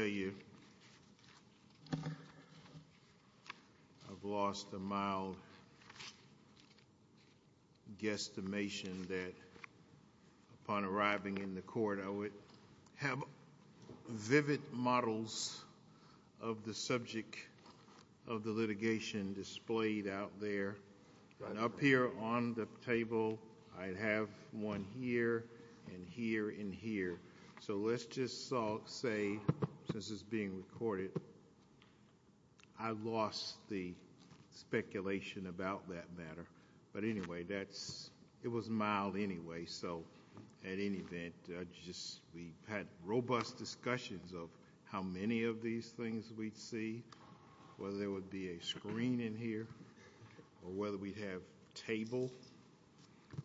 I've lost a mild guesstimation that upon arriving in the court I would have vivid models of the subject of the litigation displayed out there. And up here on the table I have one here and here and here. So let's just say, since it's being recorded, I lost the speculation about that matter. But anyway, it was mild anyway, so at any event, we had robust discussions of how many of these things we'd see, whether there would be a screen in here, or whether we'd have a table.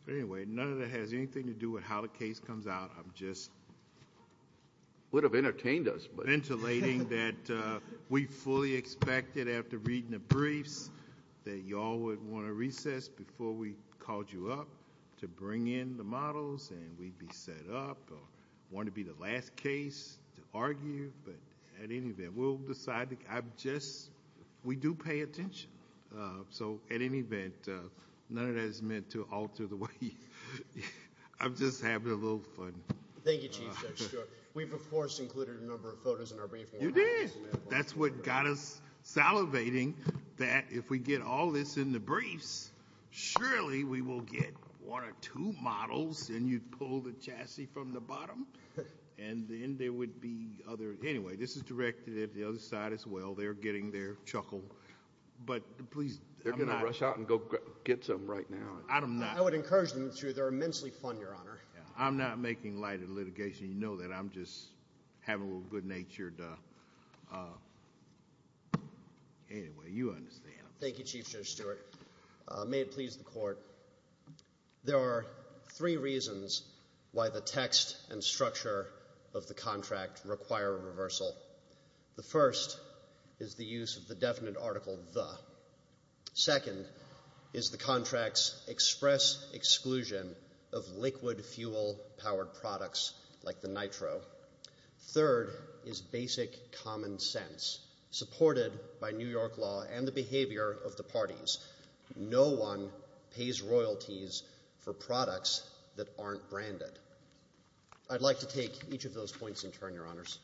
But anyway, none of that has anything to do with how the case comes out, I'm just ventilating that we fully expected after reading the briefs that you all would want to recess before we called you up to bring in the models and we'd be set up, or it wouldn't be the last case to argue. But at any event, we'll decide, I've just, we do pay attention. So at any event, none of that is meant to alter the way you, I'm just having a little fun. Thank you, Chief Judge Stewart. We've, of course, included a number of photos in our briefing. You did? That's what got us salivating that if we get all this in the briefs, surely we will get one or two models, and you'd pull the chassis from the bottom, and then there would be other, anyway, this is directed at the other side as well, they're getting their chuckle. But please, I'm not. They're going to rush out and go get some right now. I would encourage them to, they're immensely fun, Your Honor. I'm not making light of the litigation, you know that, I'm just having a little good-natured... Anyway, you understand. Thank you, Chief Judge Stewart. May it please the Court, there are three reasons why the text and structure of the contract require a reversal. The first is the use of the definite article, the. Second is the contract's express exclusion of liquid fuel-powered products like the nitro. Third is basic common sense, supported by New York law and the behavior of the parties. No one pays royalties for products that aren't branded. I'd like to take each of those points in turn, Your Honors.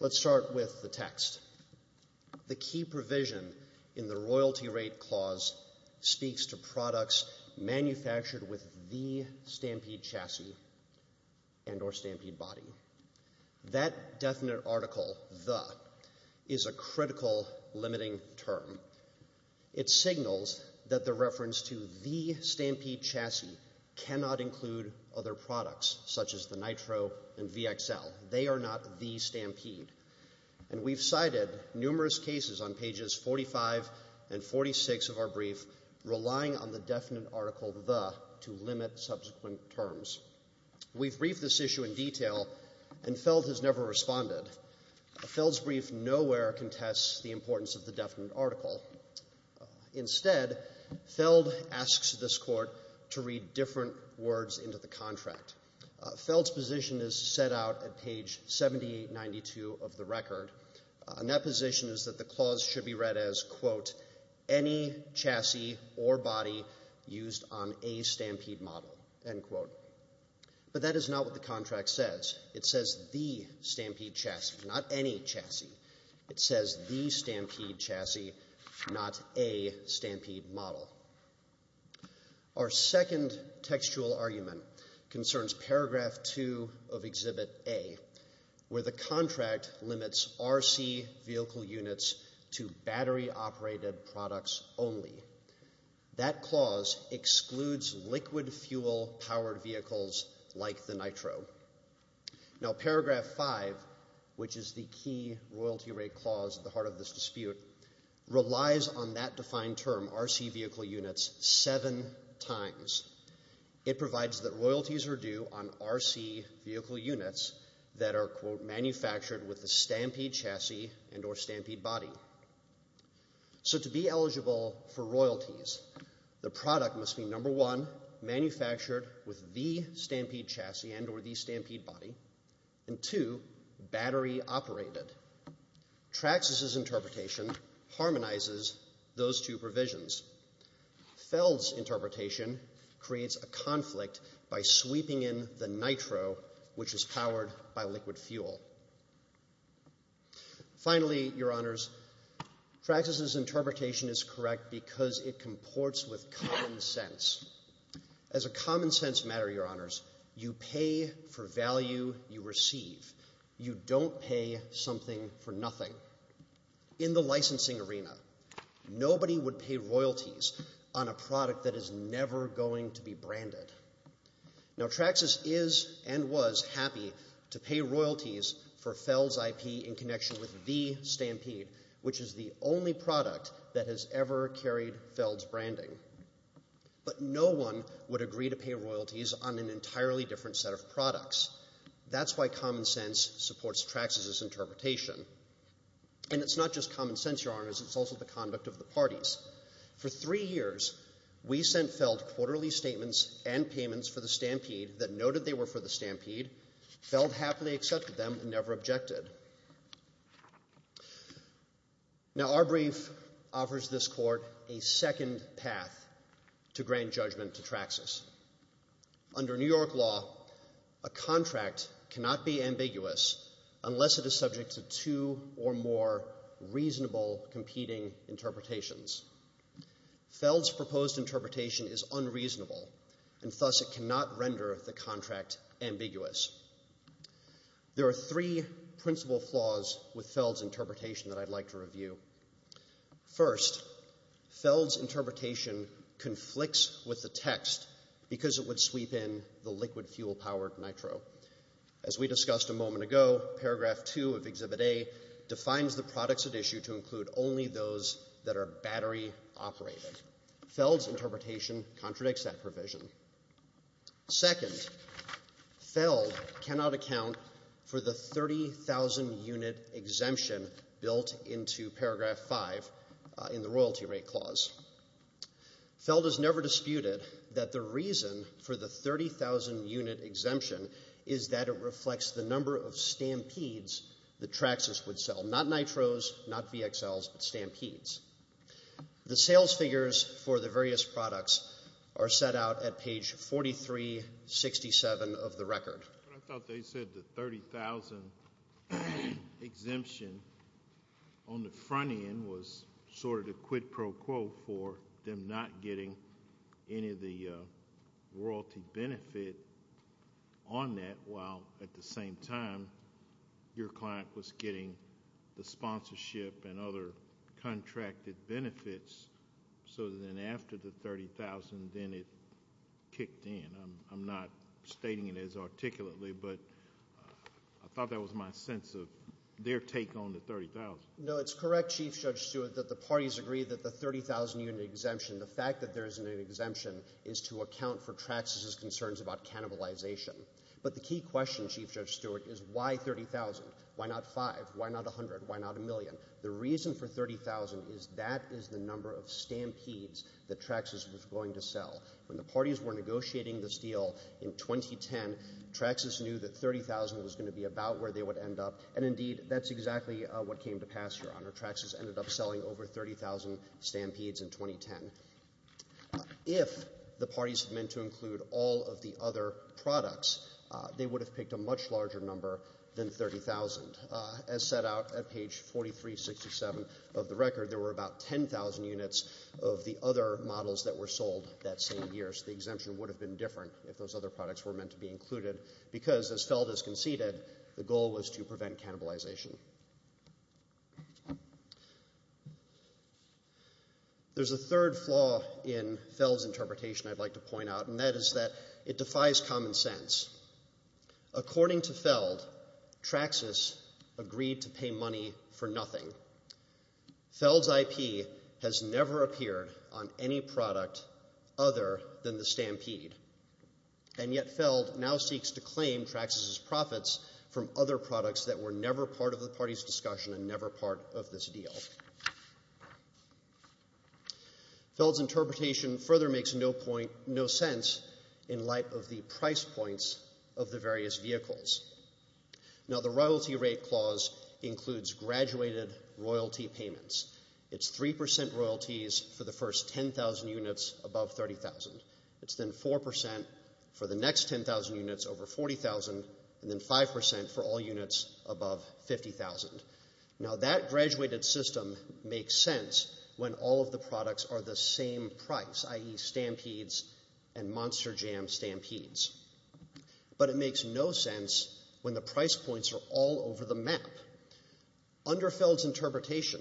Let's start with the text. The key provision in the royalty rate clause speaks to products manufactured with the stampede chassis and or stampede body. That definite article, the, is a critical limiting term. It signals that the reference to the stampede chassis cannot include other products, such as the nitro and VXL. They are not the stampede. And we've cited numerous cases on pages 45 and 46 of our brief, relying on the definite article, the, to limit subsequent terms. We've briefed this issue in detail, and Feld has never responded. Feld's brief nowhere contests the importance of the definite article. Instead, Feld asks this Court to read different words into the contract. Feld's position is set out at page 7892 of the record, and that position is that the used on a stampede model, end quote. But that is not what the contract says. It says the stampede chassis, not any chassis. It says the stampede chassis, not a stampede model. Our second textual argument concerns paragraph two of Exhibit A, where the contract limits RC vehicle units to battery-operated products only. That clause excludes liquid fuel-powered vehicles like the nitro. Now, paragraph five, which is the key royalty rate clause at the heart of this dispute, relies on that defined term, RC vehicle units, seven times. It provides that royalties are due on RC vehicle units that are, quote, manufactured with a stampede chassis and or stampede body. So, to be eligible for royalties, the product must be, number one, manufactured with the stampede chassis and or the stampede body, and two, battery-operated. Traxxas's interpretation harmonizes those two provisions. Feld's interpretation creates a conflict by sweeping in the nitro, which is powered by liquid fuel. Finally, Your Honors, Traxxas's interpretation is correct because it comports with common sense. As a common sense matter, Your Honors, you pay for value you receive. You don't pay something for nothing. In the licensing arena, nobody would pay royalties on a product that is never going to be branded. Now, Traxxas is and was happy to pay royalties for Feld's IP in connection with the stampede, which is the only product that has ever carried Feld's branding. But no one would agree to pay royalties on an entirely different set of products. That's why common sense supports Traxxas's interpretation. And it's not just common sense, Your Honors, it's also the conduct of the parties. For three years, we sent Feld quarterly statements and payments for the stampede that noted they were for the stampede. Feld happily accepted them and never objected. Now our brief offers this Court a second path to grand judgment to Traxxas. Under New York law, a contract cannot be ambiguous unless it is subject to two or more reasonable competing interpretations. Feld's proposed interpretation is unreasonable and thus it cannot render the contract ambiguous. There are three principal flaws with Feld's interpretation that I'd like to review. First, Feld's interpretation conflicts with the text because it would sweep in the liquid fuel powered nitro. As we discussed a moment ago, Paragraph 2 of Exhibit A defines the products at issue to include only those that are battery operated. Feld's interpretation contradicts that provision. Second, Feld cannot account for the 30,000 unit exemption built into Paragraph 5 in the royalty rate clause. Feld has never disputed that the reason for the 30,000 unit exemption is that it reflects the number of stampedes that Traxxas would sell, not nitros, not VXLs, but stampedes. The sales figures for the various products are set out at page 4367 of the record. I thought they said the 30,000 exemption on the front end was sort of the quid pro quo for them not getting any of the royalty benefit on that while at the same time your client was getting the sponsorship and other contracted benefits so then after the 30,000 then it kicked in. I'm not stating it as articulately, but I thought that was my sense of their take on the 30,000. No, it's correct, Chief Judge Stewart, that the parties agree that the 30,000 unit exemption, the fact that there is an exemption, is to account for Traxxas' concerns about cannibalization. But the key question, Chief Judge Stewart, is why 30,000? Why not 5? Why not 100? Why not a million? The reason for 30,000 is that is the number of stampedes that Traxxas was going to sell. When the parties were negotiating this deal in 2010, Traxxas knew that 30,000 was going to be about where they would end up and indeed that's exactly what came to pass, Your Honor. Traxxas ended up selling over 30,000 stampedes in 2010. If the parties had meant to include all of the other products, they would have picked a much larger number than 30,000. As set out at page 4367 of the record, there were about 10,000 units of the other models that were sold that same year, so the exemption would have been different if those other products were meant to be included because, as Feld has conceded, the goal was to prevent cannibalization. There's a third flaw in Feld's interpretation I'd like to point out and that is that it defies common sense. According to Feld, Traxxas agreed to pay money for nothing. Feld's IP has never appeared on any product other than the stampede and yet Feld now seeks to claim Traxxas' profits from other products that were never part of the parties' discussion and never part of this deal. Feld's interpretation further makes no point, no sense in light of the price points of the various vehicles. Now, the royalty rate clause includes graduated royalty payments. It's 3% royalties for the first 10,000 units above 30,000. It's then 4% for the next 10,000 units over 40,000 and then 5% for all units above 50,000. Now, that graduated system makes sense when all of the products are the same price, i.e. stampedes and monster jam stampedes. But it makes no sense when the price points are all over the map. Under Feld's interpretation,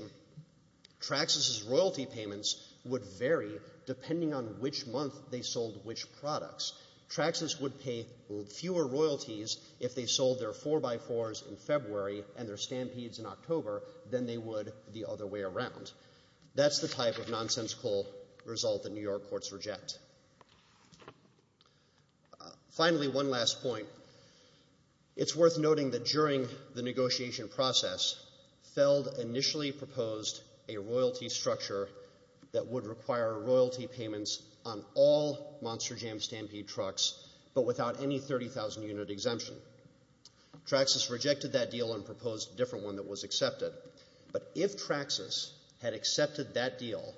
Traxxas' royalty payments would vary depending on which month they sold which products. Traxxas would pay fewer royalties if they sold their 4x4s in February and their stampedes in October than they would the other way around. That's the type of nonsensical result that New York courts reject. Finally, one last point. It's worth noting that during the negotiation process, Feld initially proposed a royalty structure that would require royalty payments on all monster jam stampede trucks but without any 30,000-unit exemption. Traxxas rejected that deal and proposed a different one that was accepted. But if Traxxas had accepted that deal,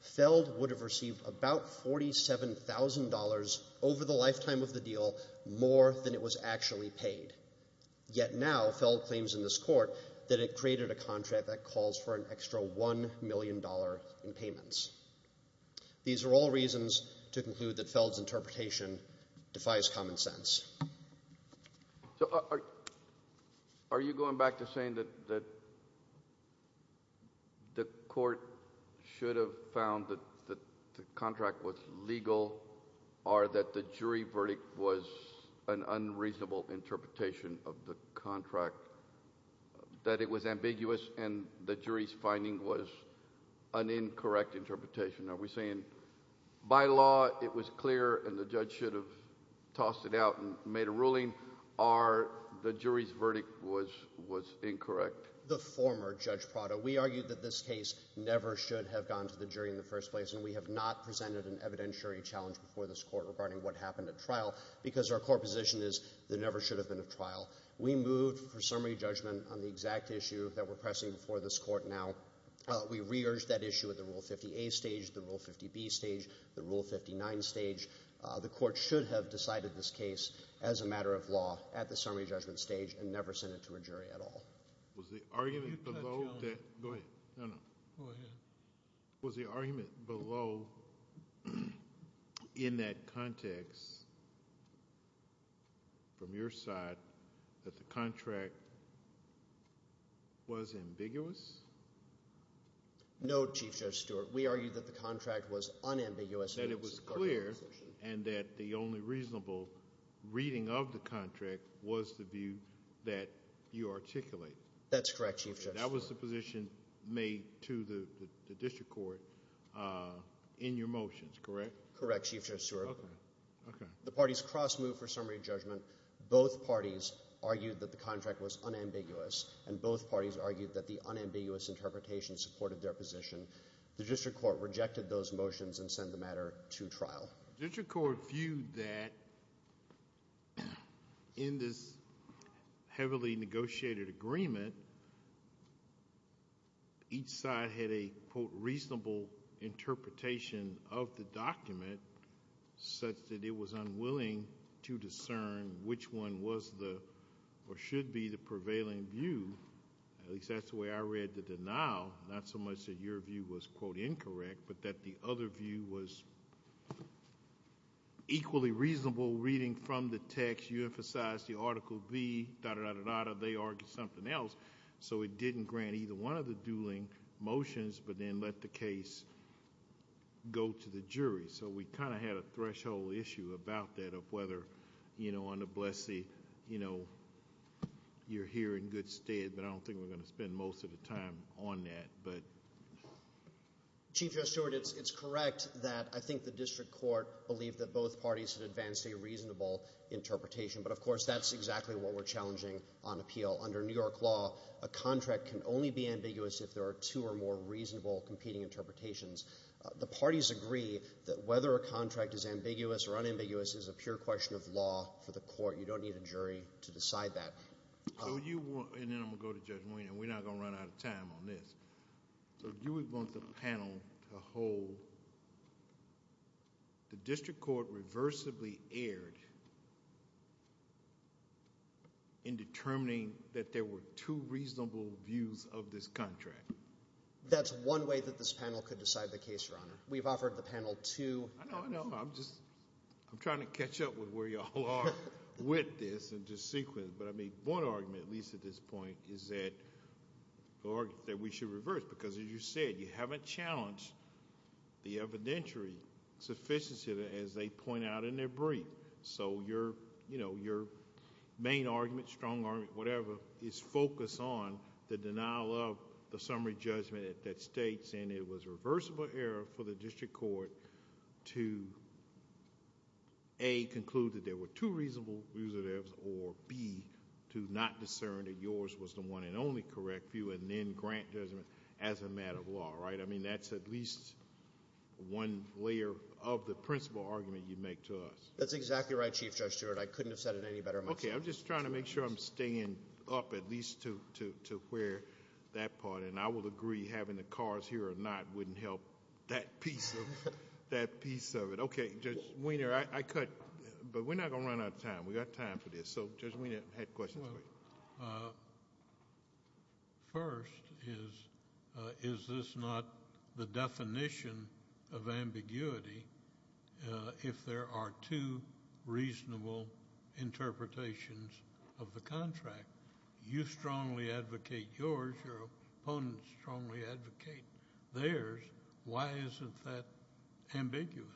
Feld would have received about $47,000 over the lifetime of the deal more than it was actually paid. Yet now, Feld claims in this court that it created a contract that calls for an extra $1 million in payments. These are all reasons to conclude that Feld's interpretation defies common sense. Are you going back to saying that the court should have found that the contract was legal or that the jury verdict was an unreasonable interpretation of the contract, that it was ambiguous and the jury's finding was an incorrect interpretation? Are we saying by law it was clear and the judge should have tossed it out and made a ruling or the jury's verdict was incorrect? The former Judge Prado. We argued that this case never should have gone to the jury in the first place and we have not presented an evidentiary challenge before this court regarding what happened at trial because our core position is there never should have been a trial. We moved for summary judgment on the exact issue that we're pressing before this court now. We re-urged that issue at the Rule 50A stage, the Rule 50B stage, the Rule 59 stage. The court should have decided this case as a matter of law at the summary judgment stage and never sent it to a jury at all. No, Chief Judge Stewart. We argued that the contract was unambiguous. That it was clear and that the only reasonable reading of the contract was the view that you articulate. That's correct, Chief Judge Stewart. That was the position made to the district court in your motions, correct? Correct, Chief Judge Stewart. The parties cross-moved for summary judgment. Both parties argued that the contract was unambiguous and both parties argued that the application supported their position. The district court rejected those motions and sent the matter to trial. The district court viewed that in this heavily negotiated agreement, each side had a, quote, reasonable interpretation of the document such that it was unwilling to discern which one was the or should be the prevailing view. At least that's the way I read the denial, not so much that your view was, quote, incorrect, but that the other view was equally reasonable reading from the text. You emphasized the Article B, da-da-da-da-da, they argued something else, so it didn't grant either one of the dueling motions, but then let the case go to the jury. So we kind of had a threshold issue about that of whether, you know, on the Blessee, you know, you're here in good stead, but I don't think we're going to spend most of the time on that, but... Chief Judge Stewart, it's correct that I think the district court believed that both parties had advanced a reasonable interpretation, but of course, that's exactly what we're challenging on appeal. Under New York law, a contract can only be ambiguous if there are two or more reasonable competing interpretations. The parties agree that whether a contract is ambiguous or unambiguous is a pure question of law for the court. You don't need a jury to decide that. So you want... and then I'm going to go to Judge Ween, and we're not going to run out of time on this. So you would want the panel to hold the district court reversibly erred in determining that there were two reasonable views of this contract. That's one way that this panel could decide the case, Your Honor. We've offered the panel two... I know, I know. I'm just... I'm trying to catch up with where y'all are with this and just sequence, but I mean, one argument, at least at this point, is that we should reverse because as you said, you haven't challenged the evidentiary sufficiency as they point out in their brief. So, your main argument, strong argument, whatever, is focus on the denial of the summary judgment that states and it was reversible error for the district court to A, conclude that there were two reasonable views of this or B, to not discern that yours was the one and only correct view and then grant judgment as a matter of law, right? I mean, that's at least one layer of the principle argument you make to us. That's exactly right, Chief Judge Stewart. I couldn't have said it any better myself. Okay. I'm just trying to make sure I'm staying up at least to where that part, and I will agree having the cars here or not wouldn't help that piece of it. Okay, Judge Wiener, I cut, but we're not going to run out of time. We got time for this. So, Judge Wiener, I have questions for you. First is, is this not the definition of ambiguity if there are two reasonable interpretations of the contract? You strongly advocate yours, your opponents strongly advocate theirs. Why isn't that ambiguous?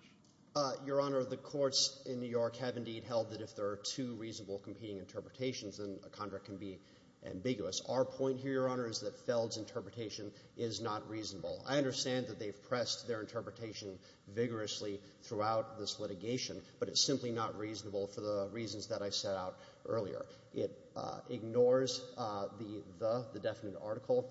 Your Honor, the courts in New York have indeed held that if there are two reasonable competing interpretations, then a contract can be ambiguous. Our point here, Your Honor, is that Feld's interpretation is not reasonable. I understand that they've pressed their interpretation vigorously throughout this litigation, but it's simply not reasonable for the reasons that I set out earlier. It ignores the the, the definite article.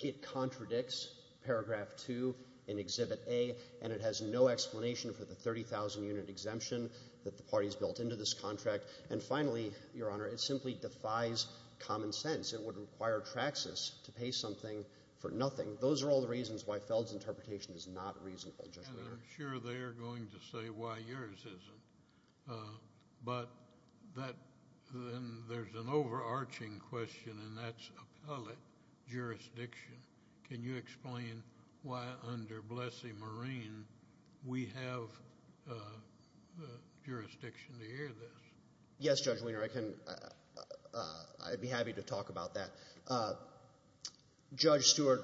It contradicts paragraph 2 in Exhibit A, and it has no explanation for the 30,000-unit exemption that the parties built into this contract. And finally, Your Honor, it simply defies common sense. It would require Traxxas to pay something for nothing. Those are all the reasons why Feld's interpretation is not reasonable, Judge Wiener. And I'm sure they're going to say why yours isn't. But that, then there's an overarching question, and that's appellate jurisdiction. Can you explain why, under Blessee-Marine, we have jurisdiction to hear this? Yes, Judge Wiener, I can, I'd be happy to talk about that. Judge Stewart,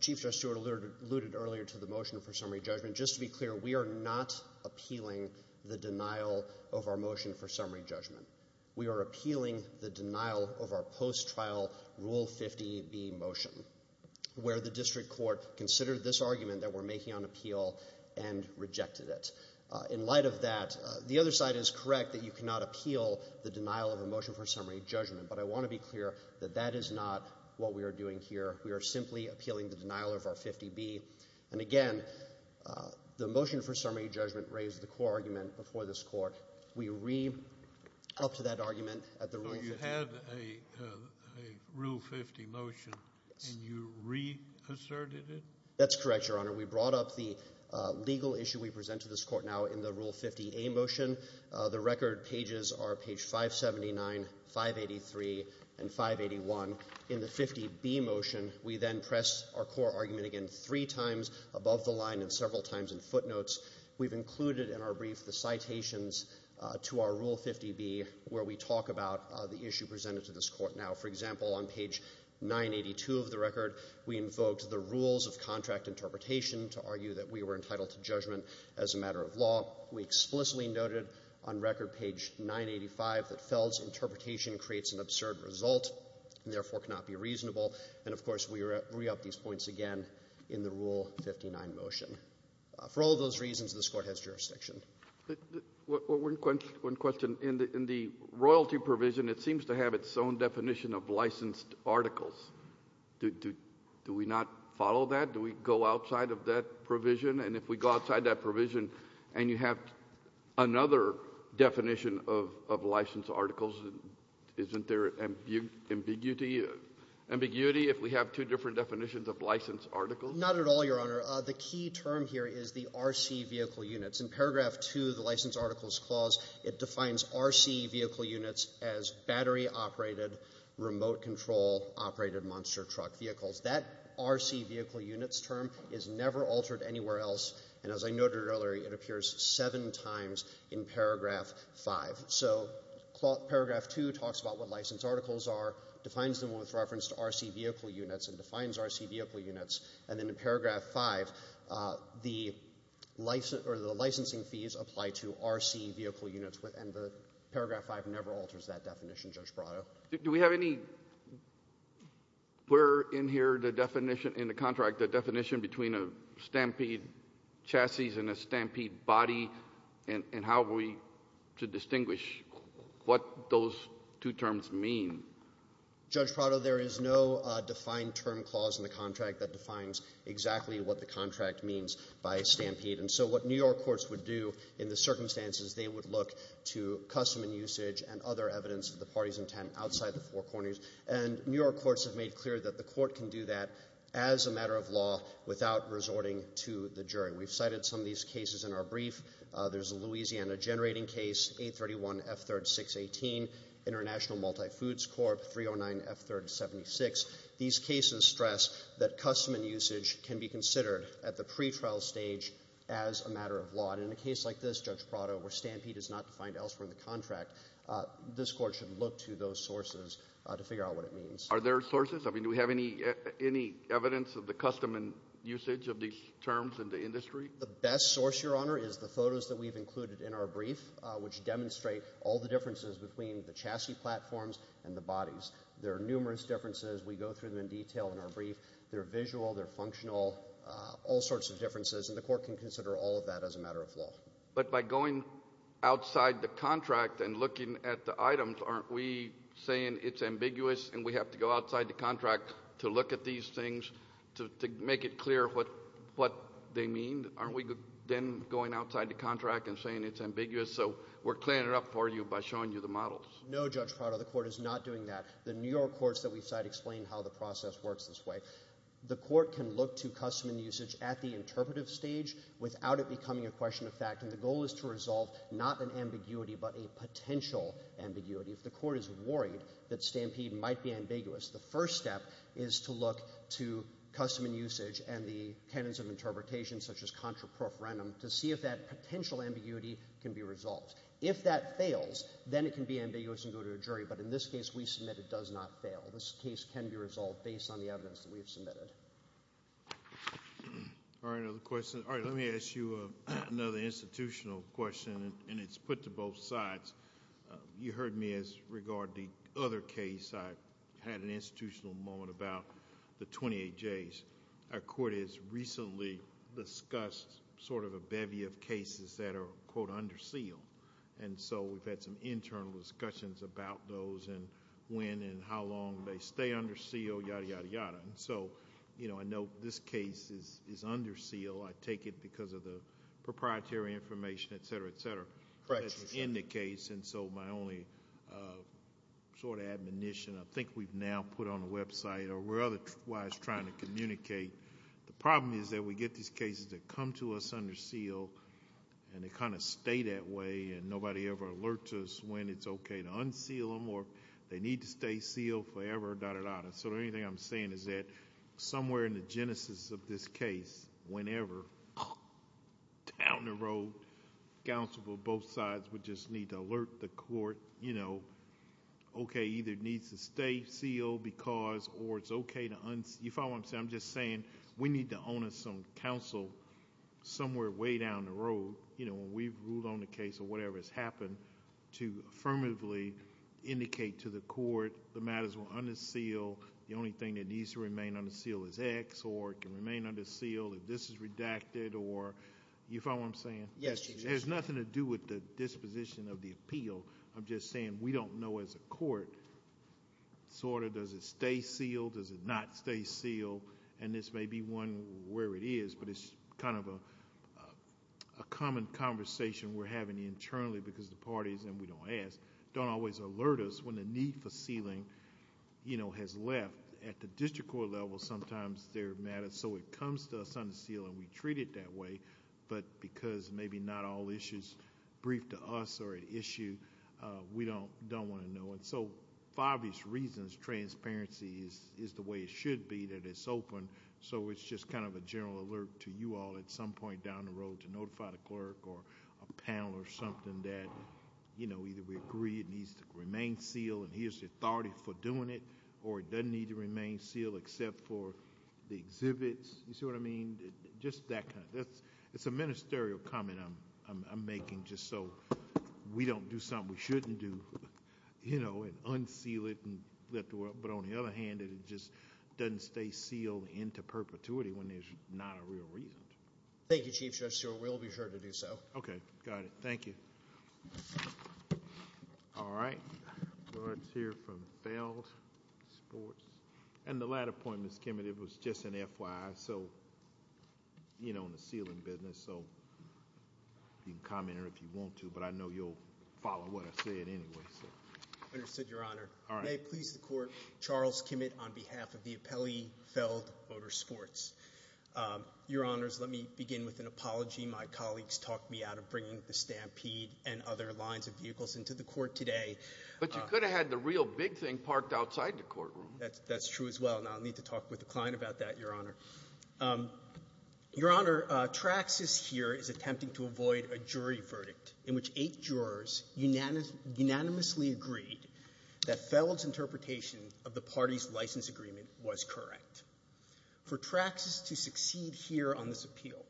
Chief Judge Stewart alluded earlier to the motion for summary judgment. Just to be clear, we are not appealing the denial of our motion for summary judgment. We are appealing the denial of our post-trial Rule 50B motion, where the district court considered this argument that we're making on appeal and rejected it. In light of that, the other side is correct that you cannot appeal the denial of a motion for summary judgment. But I want to be clear that that is not what we are doing here. We are simply appealing the denial of our 50B. And again, the motion for summary judgment raised the core argument before this Court. We re-upped to that argument at the Rule 50. So you had a Rule 50 motion, and you re-asserted it? That's correct, Your Honor. We brought up the legal issue we present to this Court now in the Rule 50A motion. The record pages are page 579, 583, and 581. In the 50B motion, we then pressed our core argument again three times above the line and several times in footnotes. We've included in our brief the citations to our Rule 50B where we talk about the issue presented to this Court now. For example, on page 982 of the record, we invoked the rules of contract interpretation to argue that we were entitled to judgment as a matter of law. We explicitly noted on record page 985 that Feld's interpretation creates an absurd result and therefore cannot be reasonable. And of course, we re-upped these points again in the Rule 59 motion. For all those reasons, this Court has jurisdiction. One question. In the royalty provision, it seems to have its own definition of licensed articles. Do we not follow that? Do we go outside of that provision? And if we go outside that provision and you have another definition of licensed articles, isn't there ambiguity if we have two different definitions of licensed articles? Not at all, Your Honor. The key term here is the RC vehicle units. In paragraph 2 of the License Articles Clause, it defines RC vehicle units as battery operated, remote control operated monster truck vehicles. That RC vehicle units term is never altered anywhere else, and as I noted earlier, it appears seven times in paragraph 5. So paragraph 2 talks about what licensed articles are, defines them with reference to RC vehicle units, and defines RC vehicle units. And then in paragraph 5, the license or the licensing fees apply to RC vehicle units, and paragraph 5 never alters that definition, Judge Prado. Do we have any clear in here, the definition in the contract, the definition between a stampede chassis and a stampede body, and how are we to distinguish what those two terms mean? Judge Prado, there is no defined term clause in the contract that defines exactly what the contract means by a stampede. And so what New York courts would do in the circumstances, they would look to custom and usage and other evidence of the party's intent outside the four corners. And New York courts have made clear that the court can do that as a matter of law without resorting to the jury. We've cited some of these cases in our brief. There's a Louisiana generating case, 831 F3RD 618, International Multifoods Corp, 309 F3RD 76. These cases stress that custom and usage can be considered at the pretrial stage as a matter of law. And in a case like this, Judge Prado, where stampede is not defined elsewhere in the contract, this court should look to those sources to figure out what it means. Are there sources? I mean, do we have any evidence of the custom and usage of these terms in the industry? The best source, Your Honor, is the photos that we've included in our brief, which demonstrate all the differences between the chassis platforms and the bodies. There are numerous differences. We go through them in detail in our brief. They're visual, they're functional, all sorts of differences. And the court can consider all of that as a matter of law. But by going outside the contract and looking at the items, aren't we saying it's ambiguous and we have to go outside the contract to look at these things to make it clear what they mean? Aren't we then going outside the contract and saying it's ambiguous? So we're cleaning it up for you by showing you the models. No, Judge Prado, the court is not doing that. The New York courts that we cite explain how the process works this way. The court can look to custom and usage at the interpretive stage without it becoming a question of fact. And the goal is to resolve not an ambiguity, but a potential ambiguity. If the court is worried that stampede might be ambiguous, the first step is to look to custom and usage and the canons of interpretation, such as contraprofrenum, to see if that potential ambiguity can be resolved. If that fails, then it can be ambiguous and go to a jury. But in this case, we submit it does not fail. This case can be resolved based on the evidence that we have submitted. All right, another question. All right, let me ask you another institutional question. And it's put to both sides. You heard me as regard the other case. I had an institutional moment about the 28Js. Our court has recently discussed sort of a bevy of cases that are, quote, under seal. And so we've had some internal discussions about those and when and how long they stay under seal, yada, yada, yada. So I know this case is under seal. I take it because of the proprietary information, et cetera, et cetera, that's in the case. And so my only sort of admonition, I think we've now put on a website, or we're otherwise trying to communicate, the problem is that we get these cases that come to us under seal. And they kind of stay that way. And nobody ever alerts us when it's OK to unseal them or they need to stay sealed forever, da, da, da. So the only thing I'm saying is that somewhere in the genesis of this case, whenever, down the road, counsel for both sides would just need to alert the court, you know, OK, either it needs to stay sealed because, or it's OK to unseal. You follow what I'm saying? I'm just saying we need to own us some counsel somewhere way down the road, you know, when we've ruled on the case or whatever has happened, to affirmatively indicate to the court the matters were under seal. The only thing that needs to remain under seal is X. Or it can remain under seal if this is redacted or, you follow what I'm saying? Yes, Judge. There's nothing to do with the disposition of the appeal. I'm just saying we don't know as a court, sort of, does it stay sealed? Does it not stay sealed? And this may be one where it is, but it's kind of a common conversation we're having internally because the parties, and we don't ask, don't always alert us when the need for sealing, you know, has left at the district court level. Sometimes there are matters. So it comes to us under seal, and we treat it that way. But because maybe not all issues brief to us are an issue, we don't want to know. And so for obvious reasons, transparency is the way it should be that it's open. So it's just kind of a general alert to you all at some point down the road to notify the clerk or a panel or something that, you know, either we agree it needs to remain sealed and here's the authority for doing it, or it doesn't need to remain sealed except for the exhibits. You see what I mean? Just that kind of, it's a ministerial comment I'm making just so we don't do something we shouldn't do. You know, and unseal it and lift it up. But on the other hand, it just doesn't stay sealed into perpetuity when there's not a real reason. Thank you, Chief Justice Stewart. We'll be sure to do so. Okay, got it. Thank you. All right. All right, let's hear from failed sports. And the latter point, Ms. Kimmett, it was just an FYI, so, you know, in the sealing business. So you can comment on it if you want to, but I know you'll follow what I said anyway, so. Understood, Your Honor. May it please the court, Charles Kimmett on behalf of the Appellee Failed Motor Sports. Your Honors, let me begin with an apology. My colleagues talked me out of bringing the stampede and other lines of vehicles into the court today. But you could have had the real big thing parked outside the courtroom. That's true as well, and I'll need to talk with the client about that, Your Honor. Your Honor, Traxxas here is attempting to avoid a jury verdict in which eight jurors unanimously agreed that Feld's interpretation of the party's license agreement was correct. For Traxxas to succeed here on this appeal,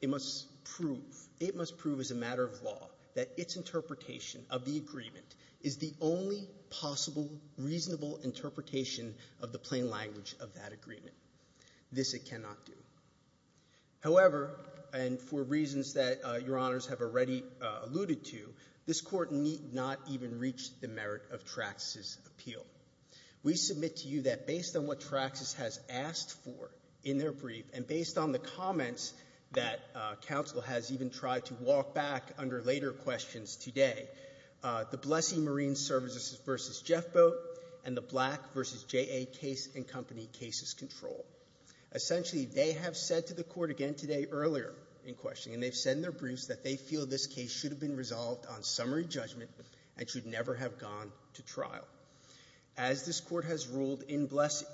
it must prove, it must prove as a matter of law, that its interpretation of the agreement is the only possible reasonable interpretation of the plain language of that agreement. This it cannot do. However, and for reasons that Your Honors have already alluded to, this court need not even reach the merit of Traxxas' appeal. We submit to you that based on what Traxxas has asked for in their brief, and based on the comments that counsel has even tried to walk back under later questions today. The Blessing Marine Services versus Jeff Boat and the Black versus JA Case and Company cases control. Essentially, they have said to the court again today earlier in questioning, and they've said in their briefs that they feel this case should have been resolved on summary judgment and should never have gone to trial. As this court has ruled in Blessing,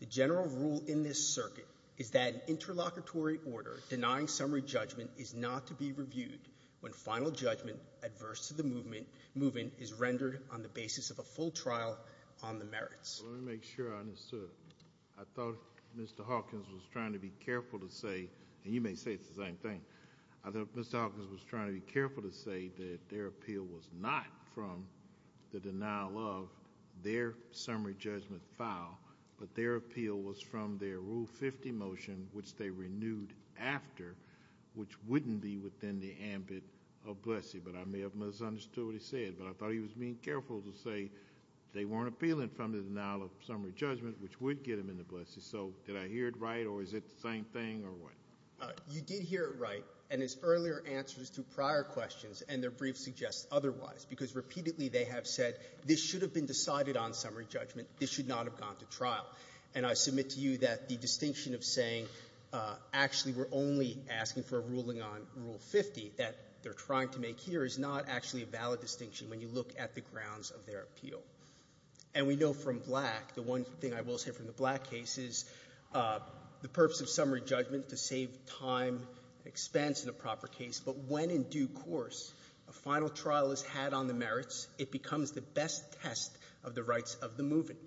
the general rule in this circuit is that interlocutory order denying summary judgment is not to be reviewed when final judgment adverse to the movement is rendered on the basis of a full trial on the merits. Let me make sure I understood. I thought Mr. Hawkins was trying to be careful to say, and you may say the same thing. I thought Mr. Hawkins was trying to be careful to say that their appeal was not from the denial of their summary judgment file. But their appeal was from their Rule 50 motion, which they renewed after, which wouldn't be within the ambit of Blessing, but I may have misunderstood what he said. But I thought he was being careful to say they weren't appealing from the denial of summary judgment, which would get them into Blessing. So did I hear it right, or is it the same thing, or what? You did hear it right, and his earlier answers to prior questions and their briefs suggest otherwise. Because repeatedly they have said, this should have been decided on summary judgment, this should not have gone to trial. And I submit to you that the distinction of saying, actually, we're only asking for a ruling on Rule 50 that they're trying to make here is not actually a valid distinction when you look at the grounds of their appeal. And we know from Black, the one thing I will say from the Black case is the purpose of summary judgment to save time, expense in a proper case, but when in due course a final trial is had on the merits, it becomes the best test of the rights of the movement.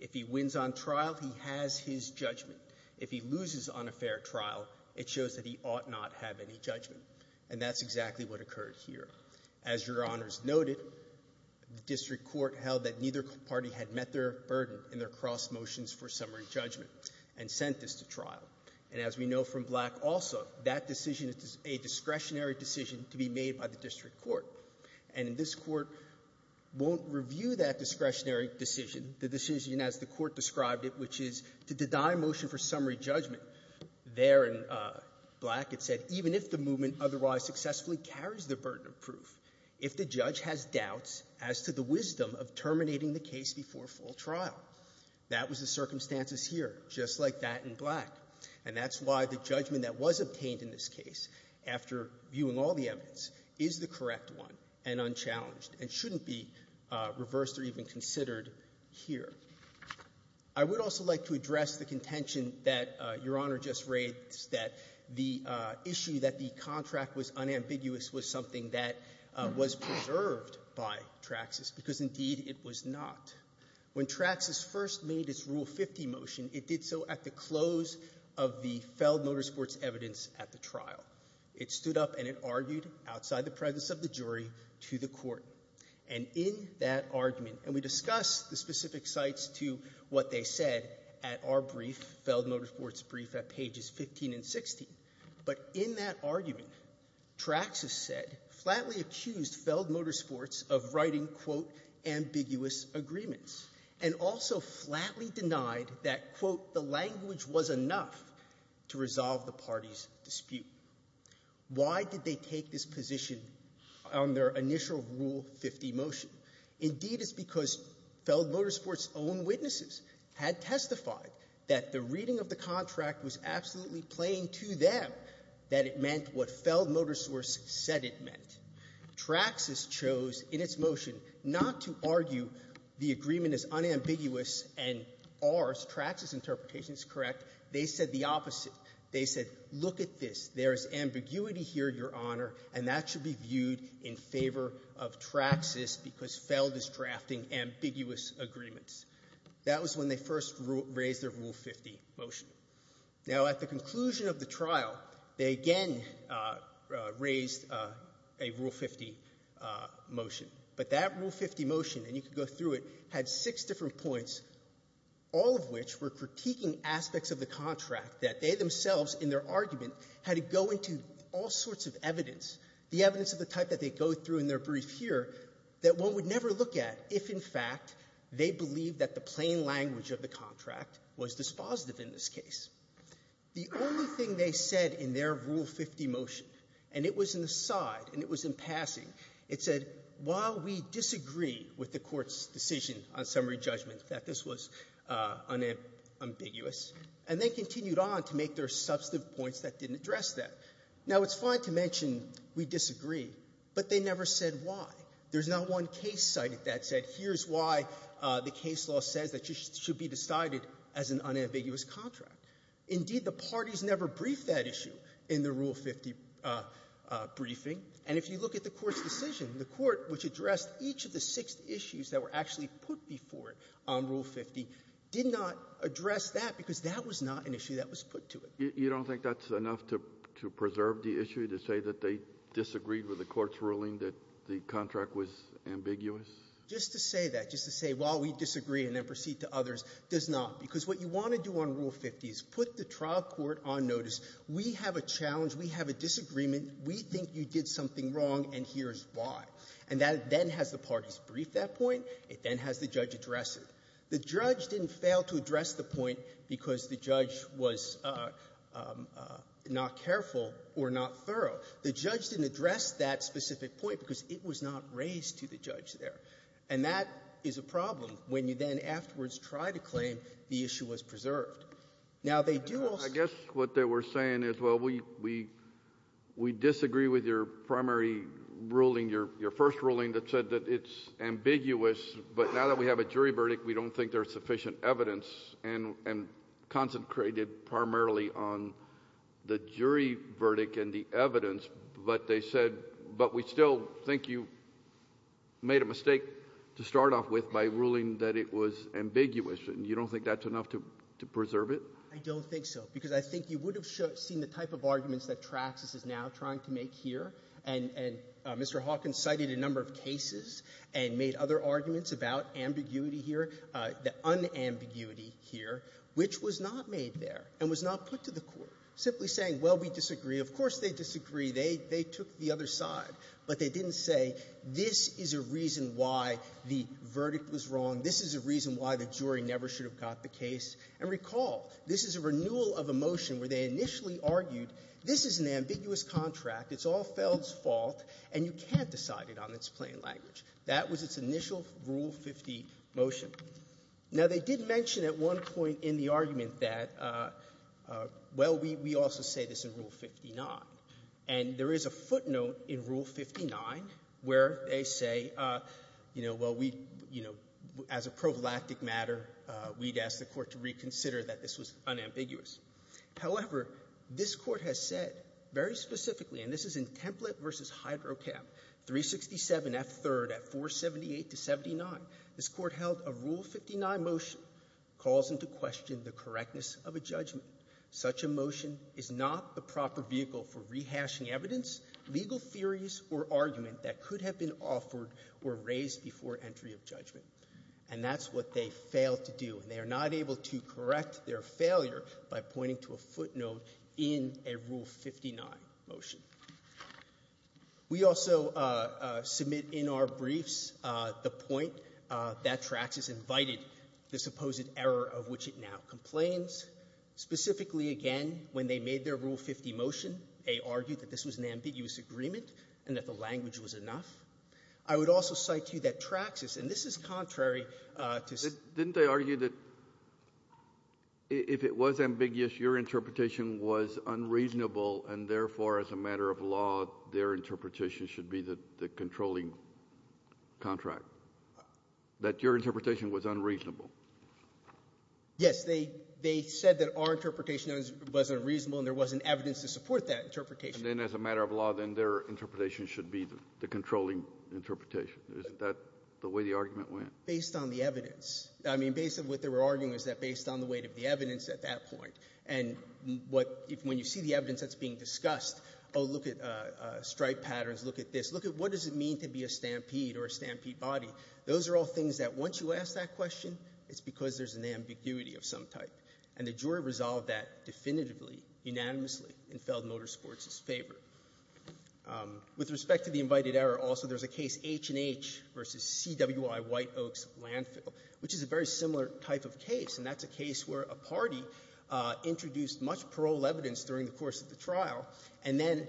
If he wins on trial, he has his judgment. If he loses on a fair trial, it shows that he ought not have any judgment. And that's exactly what occurred here. As Your Honors noted, the district court held that neither party had met their burden in their cross motions for summary judgment and sent this to trial. And as we know from Black also, that decision is a discretionary decision to be made by the district court. And this court won't review that discretionary decision, the decision as the court described it, which is to deny motion for summary judgment. There in Black, it said, even if the movement otherwise successfully carries the burden of proof, if the judge has doubts as to the wisdom of terminating the case before full trial. That was the circumstances here, just like that in Black. And that's why the judgment that was obtained in this case, after viewing all the evidence, is the correct one and unchallenged, and shouldn't be reversed or even considered here. I would also like to address the contention that Your Honor just raised, that the issue that the contract was unambiguous was something that was preserved by Traxxas, because indeed it was not. When Traxxas first made its Rule 50 motion, it did so at the close of the Feld Motorsports evidence at the trial. It stood up and it argued outside the presence of the jury to the court. And in that argument, and we discussed the specific sites to what they said at our brief, Feld Motorsports brief at pages 15 and 16. But in that argument, Traxxas said, flatly accused Feld Motorsports of writing, quote, ambiguous agreements. And also flatly denied that, quote, the language was enough to resolve the party's dispute. Why did they take this position on their initial Rule 50 motion? Indeed, it's because Feld Motorsports' own witnesses had testified that the reading of the contract was absolutely plain to them that it meant what Feld Motorsports said it meant. Traxxas chose, in its motion, not to argue the agreement is unambiguous and ours, Traxxas' interpretation is correct. They said the opposite. They said, look at this. There is ambiguity here, Your Honor, and that should be viewed in favor of Traxxas because Feld is drafting ambiguous agreements. That was when they first raised their Rule 50 motion. Now, at the conclusion of the trial, they again raised a Rule 50 motion. But that Rule 50 motion, and you can go through it, had six different points, all of which were critiquing aspects of the contract that they themselves, in their argument, had to go into all sorts of evidence, the evidence of the type that they go through in their brief here, that one would never look at if, in fact, they believe that the plain language of the contract was dispositive in this case. The only thing they said in their Rule 50 motion, and it was an aside, and it was in passing, it said, while we disagree with the court's decision on summary judgment that this was unambiguous. And they continued on to make their substantive points that didn't address that. Now, it's fine to mention we disagree, but they never said why. There's not one case cited that said, here's why the case law says that it should be decided as an unambiguous contract. Indeed, the parties never briefed that issue in the Rule 50 briefing. And if you look at the Court's decision, the Court, which addressed each of the six issues that were actually put before it on Rule 50, did not address that because that was not an issue that was put to it. You don't think that's enough to preserve the issue to say that they disagreed with the Court's ruling that the contract was ambiguous? Just to say that, just to say, well, we disagree, and then proceed to others, does not. Because what you want to do on Rule 50 is put the trial court on notice. We have a challenge. We have a disagreement. We think you did something wrong, and here's why. And that then has the parties brief that point. It then has the judge address it. The judge didn't fail to address the point because the judge was not careful or not thorough. The judge didn't address that specific point because it was not raised to the judge there. And that is a problem when you then afterwards try to claim the issue was preserved. Now, they do also — I guess what they were saying is, well, we disagree with your primary ruling, your first ruling, that said that it's ambiguous. But now that we have a jury verdict, we don't think there's sufficient evidence, and concentrated primarily on the jury verdict and the evidence. But they said, but we still think you made a mistake to start off with by ruling that it was ambiguous, and you don't think that's enough to preserve it? I don't think so, because I think you would have seen the type of arguments that Traxxas is now trying to make here. And Mr. Hawkins cited a number of cases and made other arguments about ambiguity here, the unambiguity here, which was not made there and was not put to the court. Simply saying, well, we disagree. Of course they disagree. They took the other side. But they didn't say, this is a reason why the verdict was wrong. This is a reason why the jury never should have got the case. And recall, this is a renewal of a motion where they initially argued, this is an ambiguous contract, it's all Feld's fault, and you can't decide it on its plain language. That was its initial Rule 50 motion. Now, they did mention at one point in the argument that, well, we also say this in Rule 59. And there is a footnote in Rule 59 where they say, you know, well, we, you know, as a pro galactic matter, we'd ask the Court to reconsider that this was unambiguous. However, this Court has said very specifically, and this is in Template v. Hydrocap 367F3rd at 478-79, this Court held a Rule 59 motion calls into question the correctness of a judgment. Such a motion is not the proper vehicle for rehashing evidence, legal theories, or argument that could have been offered or raised before entry of judgment. And that's what they failed to do. And they are not able to correct their failure by pointing to a footnote in a Rule 59 motion. We also submit in our briefs the point that Traxas invited the supposed error of which it now complains, specifically, again, when they made their Rule 50 motion, they argued that this was an ambiguous agreement and that the language was enough. I would also cite to you that Traxas, and this is contrary to the other arguments they made, they argued that if it was ambiguous, your interpretation was unreasonable and therefore, as a matter of law, their interpretation should be the controlling contract. That your interpretation was unreasonable. Yes. They said that our interpretation was unreasonable and there wasn't evidence to support that interpretation. And then as a matter of law, then their interpretation should be the controlling interpretation. Isn't that the way the argument went? Based on the evidence. I mean, based on what they were arguing was that based on the weight of the evidence at that point and when you see the evidence that's being discussed, oh, look at stripe patterns, look at this, look at what does it mean to be a stampede or a stampede body. Those are all things that once you ask that question, it's because there's an ambiguity of some type. And the jury resolved that definitively, unanimously, in Feld Motorsports' favor. With respect to the invited error, also there's a case H&H v. CWI White Oaks Landfill, which is a very similar type of case. And that's a case where a party introduced much parole evidence during the course of the trial, and then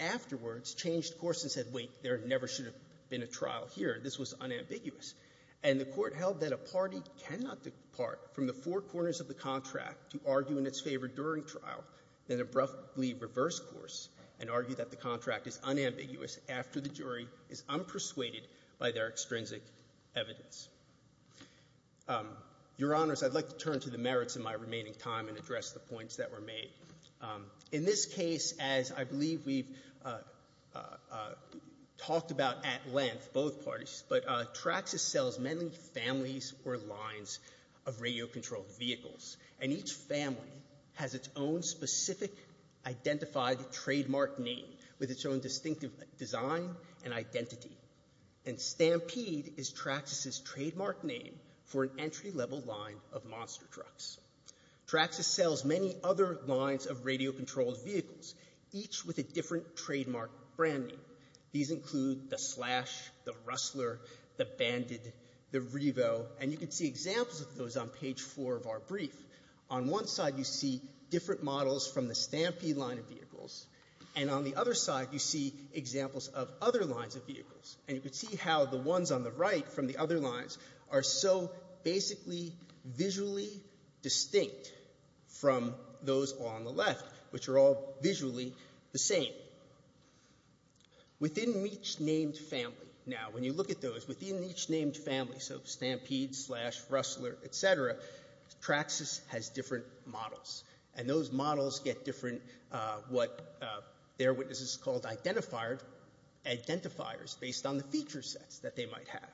afterwards changed course and said, wait, there never should have been a trial here. This was unambiguous. And the Court held that a party cannot depart from the four corners of the contract to argue in its favor during trial, then abruptly reverse course and argue that the contract is unambiguous after the jury is unpersuaded by their extrinsic evidence. Your Honors, I'd like to turn to the merits in my remaining time and address the points that were made. In this case, as I believe we've talked about at length, both parties, but Traxxas sells mainly families or lines of radio-controlled vehicles, and each family has its own specific identified trademark name with its own distinctive design and identity. And Stampede is Traxxas' trademark name for an entry-level line of monster trucks. Traxxas sells many other lines of radio-controlled vehicles, each with a different trademark branding. These include the Slash, the Rustler, the Bandit, the Revo, and you can see examples of those on page four of our brief. On one side, you see different models from the Stampede line of vehicles, and on the other side, you see examples of other lines of vehicles, and you can see how the ones on the right from the other lines are so basically visually distinct from those on the left, which are all visually the same. Within each named family, now, when you look at those, within each named family, so Stampede, Slash, Rustler, et cetera, Traxxas has different models, and those models get different what their witnesses called identifiers based on the feature sets that they might have.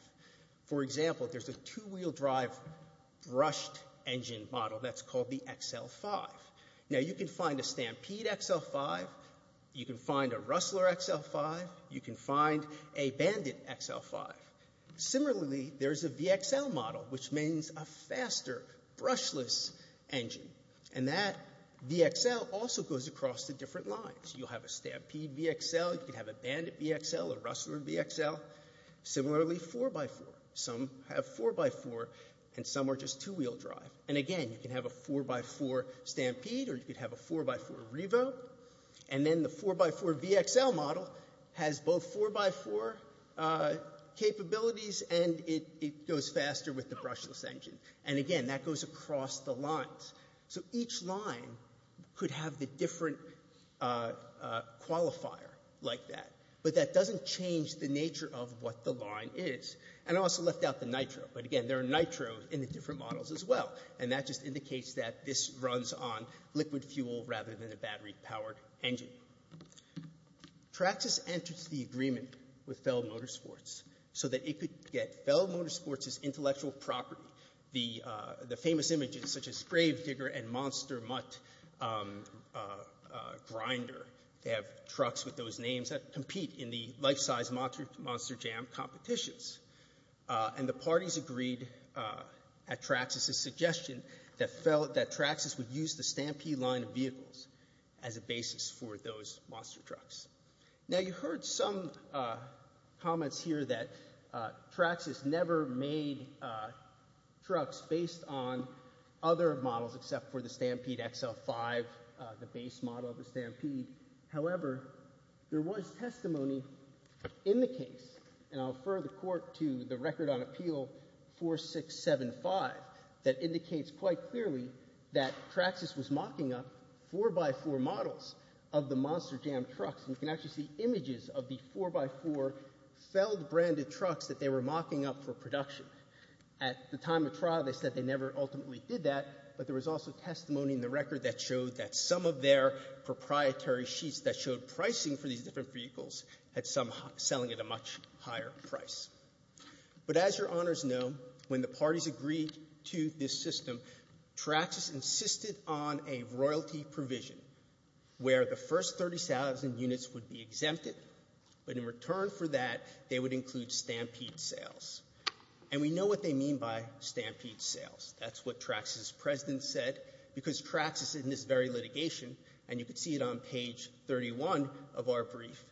For example, there's a two-wheel drive brushed engine model that's called the XL5. Now, you can find a Stampede XL5, you can find a Rustler XL5, you can find a Bandit XL5. Similarly, there's a VXL model, which means a faster brushless engine. And that VXL also goes across the different lines. You'll have a Stampede VXL, you can have a Bandit VXL, a Rustler VXL. Similarly, 4x4. Some have 4x4, and some are just two-wheel drive. And again, you can have a 4x4 Stampede, or you could have a 4x4 Revo. And then the 4x4 VXL model has both 4x4 capabilities, and it goes faster with the brushless engine. And again, that goes across the lines. So each line could have the different qualifier like that. But that doesn't change the nature of what the line is. And I also left out the nitro. But again, there are nitros in the different models as well. And that just indicates that this runs on liquid fuel rather than a battery-powered engine. Traxxas enters the agreement with Feld Motorsports so that it could get Feld Motorsports' intellectual property. The famous images, such as Grave Digger and Monster Mutt Grinder, they have trucks with those names that compete in the life-size Monster Jam competitions. And the parties agreed at Traxxas' suggestion that Traxxas would use the Stampede line of vehicles as a basis for those monster trucks. Now you heard some comments here that Traxxas never made trucks based on other models except for the Stampede XL5, the base model of the Stampede. However, there was testimony in the case, and I'll refer the court to the record on appeal 4675, that indicates quite clearly that Traxxas was mocking up 4x4 models of the Monster Jam trucks. And you can actually see images of the 4x4 Feld-branded trucks that they were mocking up for production. At the time of trial, they said they never ultimately did that, but there was also testimony in the record that showed that some of their proprietary sheets that showed pricing for these different vehicles had some selling at a much higher price. But as Your Honors know, when the parties agreed to this system, Traxxas insisted on a royalty provision where the first 30,000 units would be exempted, but in return for that they would include Stampede sales. And we know what they mean by Stampede sales. That's what Traxxas' president said, because Traxxas in this very litigation, and you can see it on page 31 of our brief,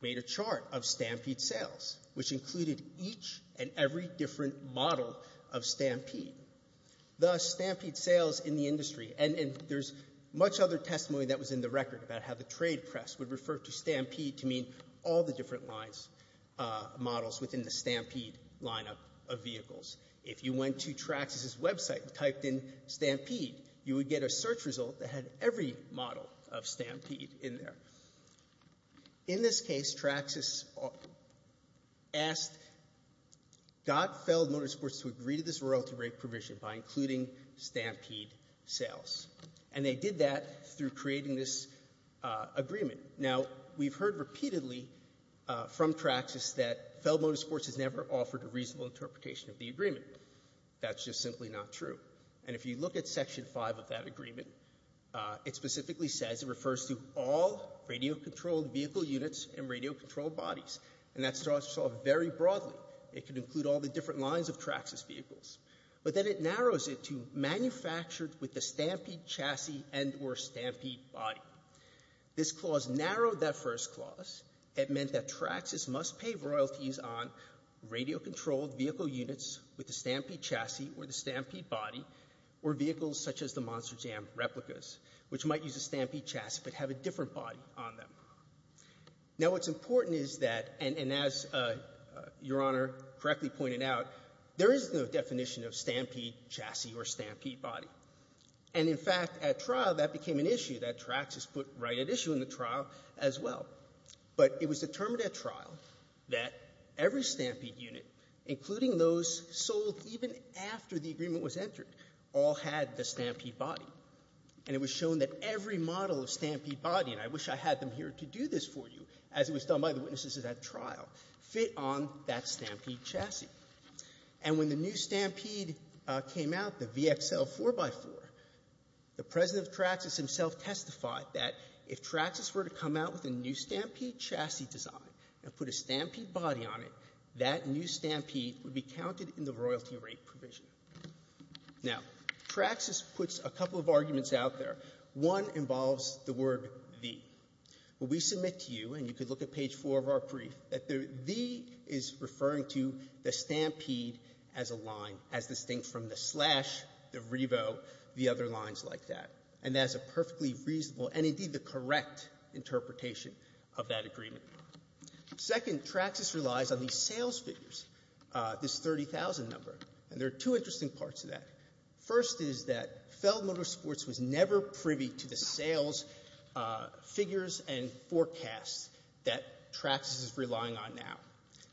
made a chart of Stampede sales, which included each and every different model of Stampede. Thus, Stampede sales in the industry, and there's much other testimony that was in the record about how the trade press would refer to Stampede to mean all the different lines, models within the Stampede lineup of vehicles. If you went to Traxxas' website and typed in Stampede, you would get a search result that had every model of Stampede in there. In this case, Traxxas asked, got Feld Motorsports to agree to this royalty rate provision by including Stampede sales. And they did that through creating this agreement. Now we've heard repeatedly from Traxxas that Feld Motorsports has never offered a reasonable interpretation of the agreement. That's just simply not true. And if you look at Section 5 of that agreement, it specifically says it refers to all radio-controlled vehicle units and radio-controlled bodies. And that starts off very broadly. It could include all the different lines of Traxxas vehicles. But then it narrows it to manufactured with the Stampede chassis and or Stampede body. This clause narrowed that first clause. It meant that Traxxas must pay royalties on radio-controlled vehicle units with the Stampede chassis or the Stampede body, or vehicles such as the Monster Jam replicas, which might use a Stampede chassis but have a different body on them. Now what's important is that, and as Your Honor correctly pointed out, there is no definition of Stampede chassis or Stampede body. And in fact, at trial, that became an issue that Traxxas put right at issue in the trial as well. But it was determined at trial that every Stampede unit, including those sold even after the agreement was entered, all had the Stampede body. And it was shown that every model of Stampede body, and I wish I had them here to do this for you, as it was done by the witnesses at trial, fit on that Stampede chassis. And when the new Stampede came out, the VXL 4x4, the President of Traxxas himself testified that if Traxxas were to come out with a new Stampede chassis design and put a Stampede body on it, that new Stampede would be counted in the royalty rate provision. Now, Traxxas puts a couple of arguments out there. One involves the word the. When we submit to you, and you can look at page 4 of our brief, that the the is referring to the Stampede as a line, as distinct from the slash, the revo, the other lines like that. And that's a perfectly reasonable, and indeed the correct, interpretation of that agreement. Second, Traxxas relies on these sales figures, this 30,000 number, and there are two interesting parts of that. First is that Feld Motorsports was never privy to the sales figures and forecasts that Traxxas is relying on now.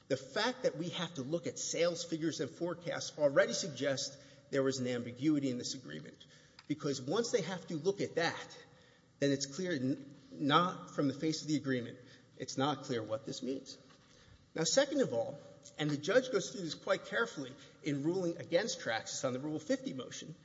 The fact that we have to look at sales figures and forecasts already suggests there was an ambiguity in this agreement. Because once they have to look at that, then it's clear not from the face of the agreement, it's not clear what this means. Now, second of all, and the judge goes through this quite carefully in ruling against Traxxas on the Rule 50 motion,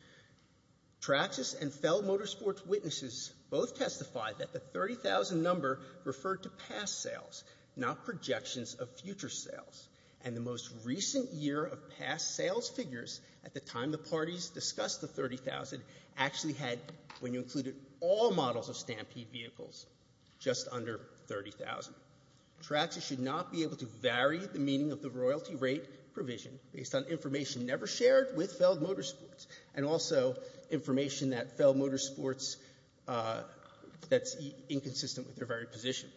Traxxas and Feld Motorsports' witnesses both testified that the 30,000 number referred to past sales, not projections of future sales. And the most recent year of past sales figures, at the time the parties discussed the 30,000, actually had, when you included all models of stampede vehicles, just under 30,000. Traxxas should not be able to vary the meaning of the royalty rate provision based on information never shared with Feld Motorsports, and also information that Feld Motorsports, that's inconsistent with their very position.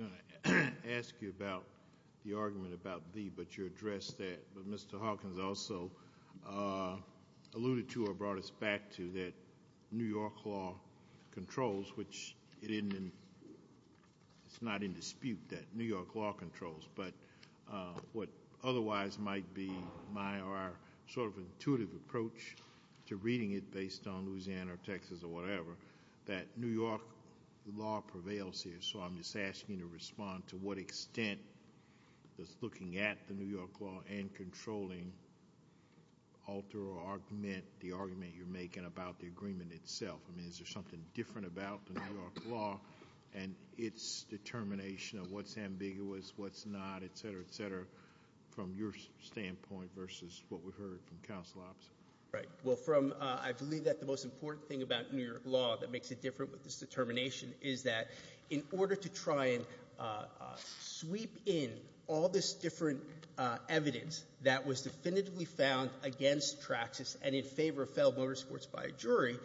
I was going to ask you about the argument about the, but you addressed that, but Mr. Hawkins also alluded to or brought us back to that New York law controls, which it's not in dispute that New York law controls. But what otherwise might be my or our sort of intuitive approach to reading it based on Louisiana or Texas or whatever, that New York law prevails here. So I'm just asking you to respond to what extent does looking at the New York law and controlling alter or augment the argument you're making about the agreement itself? I mean, is there something different about the New York law and its determination of what's ambiguous, what's not, etc., etc., from your standpoint versus what we've heard from counsel opposite? Right, well from, I believe that the most important thing about New York law that makes it different with this determination is that, in order to try and sweep in all this different evidence that was definitively found against Traxxas and in favor of Feld Motorsports by a jury,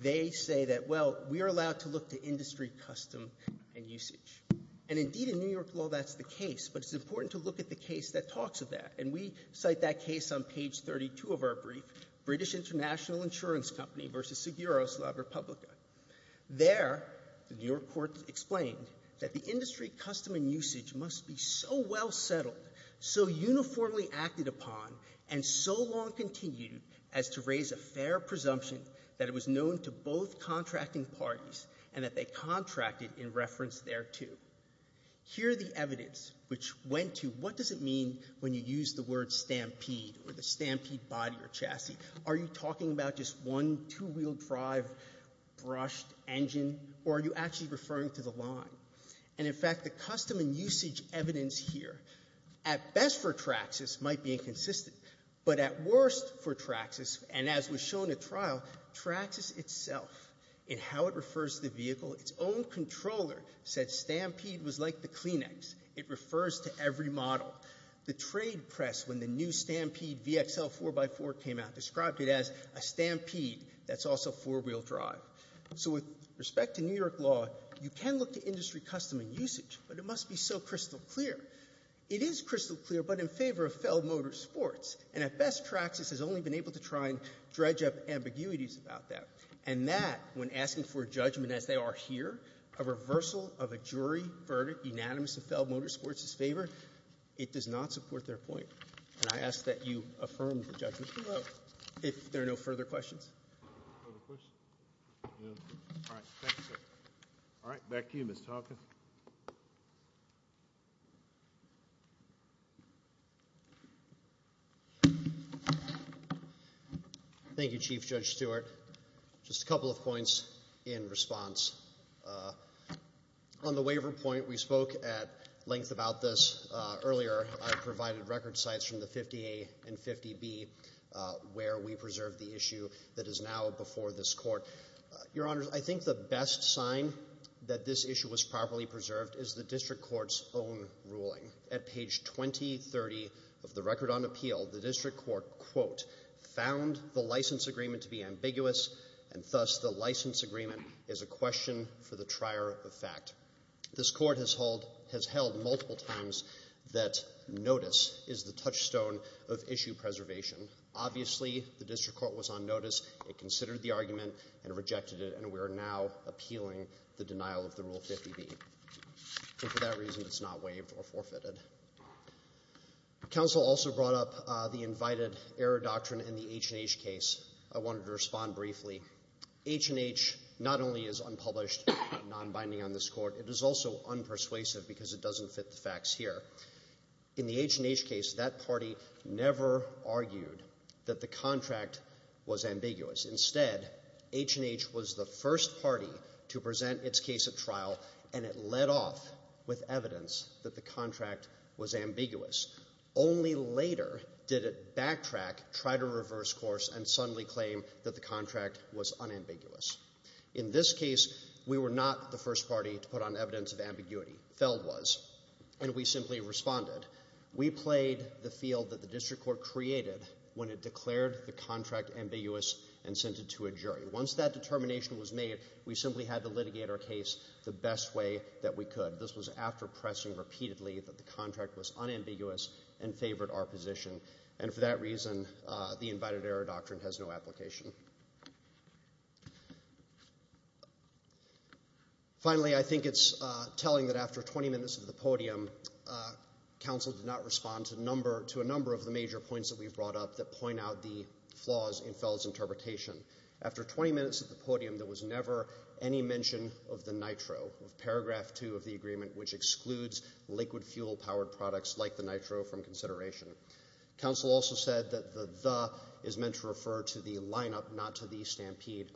they say that, well, we are allowed to look to industry custom and usage. And indeed in New York law that's the case, but it's important to look at the case that talks of that. And we cite that case on page 32 of our brief, British International Insurance Company versus Seguros La Repubblica. There, the New York court explained that the industry custom and usage must be so well settled, so uniformly acted upon, and so long continued as to raise a fair presumption that it was known to both contracting parties and that they contracted in reference thereto. Here the evidence which went to, what does it mean when you use the word stampede or the stampede body or chassis? Are you talking about just one two-wheel drive brushed engine, or are you actually referring to the line? And in fact, the custom and usage evidence here, at best for Traxxas, might be inconsistent. But at worst for Traxxas, and as was shown at trial, Traxxas itself, in how it refers to the vehicle, its own controller said stampede was like the Kleenex. It refers to every model. The trade press, when the new stampede VXL 4x4 came out, described it as a stampede that's also four-wheel drive. So with respect to New York law, you can look to industry custom and usage, but it must be so crystal clear. It is crystal clear, but in favor of felled motor sports. And at best, Traxxas has only been able to try and dredge up ambiguities about that. And that, when asking for a judgment as they are here, a reversal of a jury verdict unanimous to fell motor sports is favored. It does not support their point. And I ask that you affirm the judgment below. If there are no further questions. Further questions? All right, thank you, sir. All right, back to you, Mr. Hawkins. Thank you, Chief Judge Stewart. Just a couple of points in response. On the waiver point, we spoke at length about this earlier. I provided record sites from the 50A and 50B where we preserved the issue that is now before this court. Your Honor, I think the best sign that this issue was properly preserved is the district court's own ruling. At page 2030 of the record on appeal, the district court, quote, found the license agreement to be ambiguous, and thus the license agreement is a question for the trier of fact. This court has held multiple times that notice is the touchstone of issue preservation. Obviously, the district court was on notice. It considered the argument and rejected it, and we are now appealing the denial of the Rule 50B. And for that reason, it's not waived or forfeited. Counsel also brought up the invited error doctrine in the H&H case. I wanted to respond briefly. H&H not only is unpublished, non-binding on this court, it is also unpersuasive because it doesn't fit the facts here. In the H&H case, that party never argued that the contract was ambiguous. Instead, H&H was the first party to present its case at trial, and it led off with evidence that the contract was ambiguous. Only later did it backtrack, try to reverse course, and suddenly claim that the contract was unambiguous. In this case, we were not the first party to put on evidence of ambiguity. Feld was, and we simply responded. We played the field that the district court created when it declared the contract ambiguous and sent it to a jury. Once that determination was made, we simply had to litigate our case the best way that we could. This was after pressing repeatedly that the contract was unambiguous and favored our position. And for that reason, the invited error doctrine has no application. Finally, I think it's telling that after 20 minutes of the podium, counsel did not respond to a number of the major points that we've brought up that point out the flaws in Feld's interpretation. After 20 minutes of the podium, there was never any mention of the nitro, paragraph two of the agreement, which excludes liquid fuel-powered products like the nitro from consideration. Counsel also said that the the is meant to refer to the lineup, not to the stampede.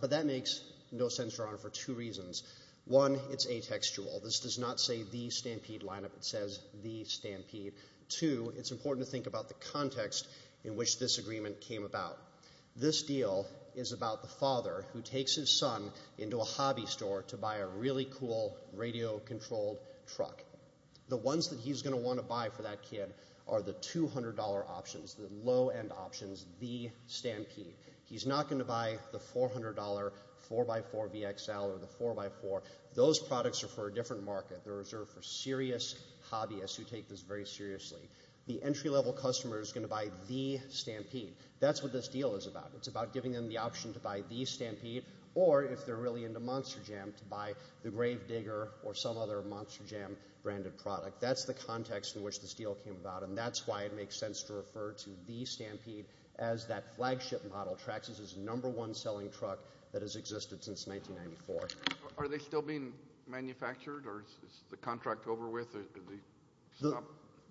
But that makes no sense, Your Honor, for two reasons. One, it's atextual. This does not say the stampede lineup. It says the stampede. Two, it's important to think about the context in which this agreement came about. This deal is about the father who takes his son into a hobby store to buy a really cool radio-controlled truck. The ones that he's going to want to buy for that kid are the $200 options, the low-end options, the stampede. He's not going to buy the $400 4x4 VXL or the 4x4. Those products are for a different market. They're reserved for serious hobbyists who take this very seriously. The entry-level customer is going to buy the stampede. That's what this deal is about. It's about giving them the option to buy the stampede or, if they're really into monster jam, to buy the Grave Digger or some other monster jam-branded product. That's the context in which this deal came about. And that's why it makes sense to refer to the stampede as that flagship model. Traxxas is the number-one-selling truck that has existed since 1994. Are they still being manufactured? Or is the contract over with?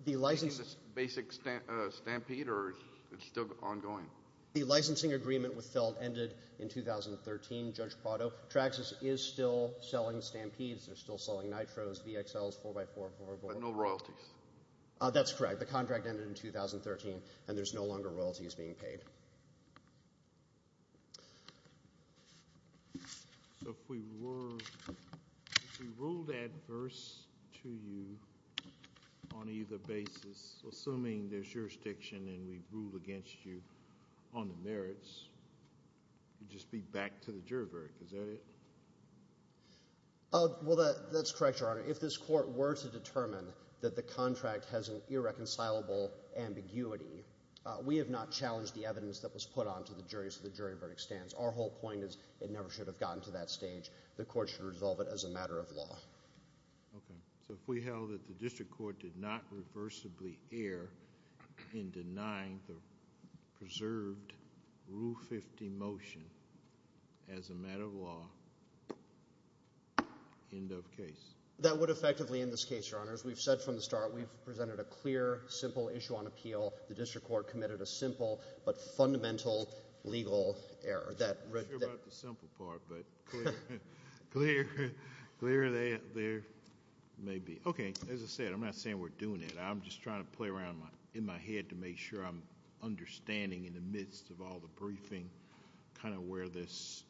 The license is basic stampede, or it's still ongoing? The licensing agreement with Felt ended in 2013, Judge Prado. Traxxas is still selling stampedes. They're still selling nitros, VXLs, 4x4, 4x4. But no royalties. That's correct. The contract ended in 2013, and there's no longer royalties being paid. So if we were, if we ruled adverse to you on either basis, assuming there's jurisdiction and we ruled against you on the merits, it would just be back to the jury verdict. Is that it? Oh, well, that's correct, Your Honor. If this court were to determine that the contract has an irreconcilable ambiguity, we have not challenged the evidence that was put onto the jury, so the jury verdict stands. Our whole point is it never should have gotten to that stage. The court should resolve it as a matter of law. Okay. So if we held that the district court did not reversibly err in denying the preserved Rule 50 motion as a matter of law, end of case? That would effectively end this case, Your Honors. We've said from the start, we've presented a clear, simple issue on appeal. The district court committed a simple but fundamental legal error. I'm not sure about the simple part, but clear there may be. Okay. As I said, I'm not saying we're doing it. I'm just trying to play around in my head to make sure I'm understanding in the midst of all the briefing kind of where this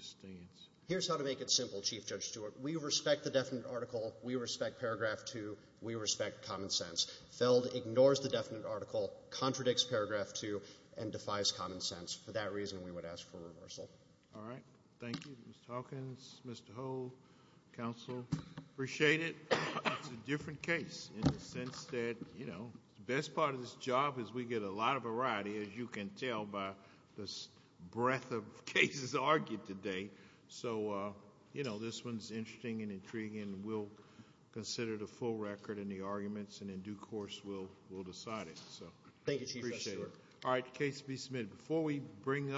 stands. Here's how to make it simple, Chief Judge Stewart. We respect the definite article. We respect Paragraph 2. We respect common sense. Feld ignores the definite article, contradicts Paragraph 2, and defies common sense. For that reason, we would ask for reversal. All right. Thank you, Mr. Hawkins, Mr. Hull, counsel. Appreciate it. It's a different case in the sense that, you know, the best part of this job is we get a lot of variety, as you can tell by the breadth of cases argued today. So, you know, this one's interesting and intriguing, and we'll consider the full record and the arguments, and in due course, we'll decide it. So thank you, Chief Judge Stewart. All right. Case be submitted. Before we bring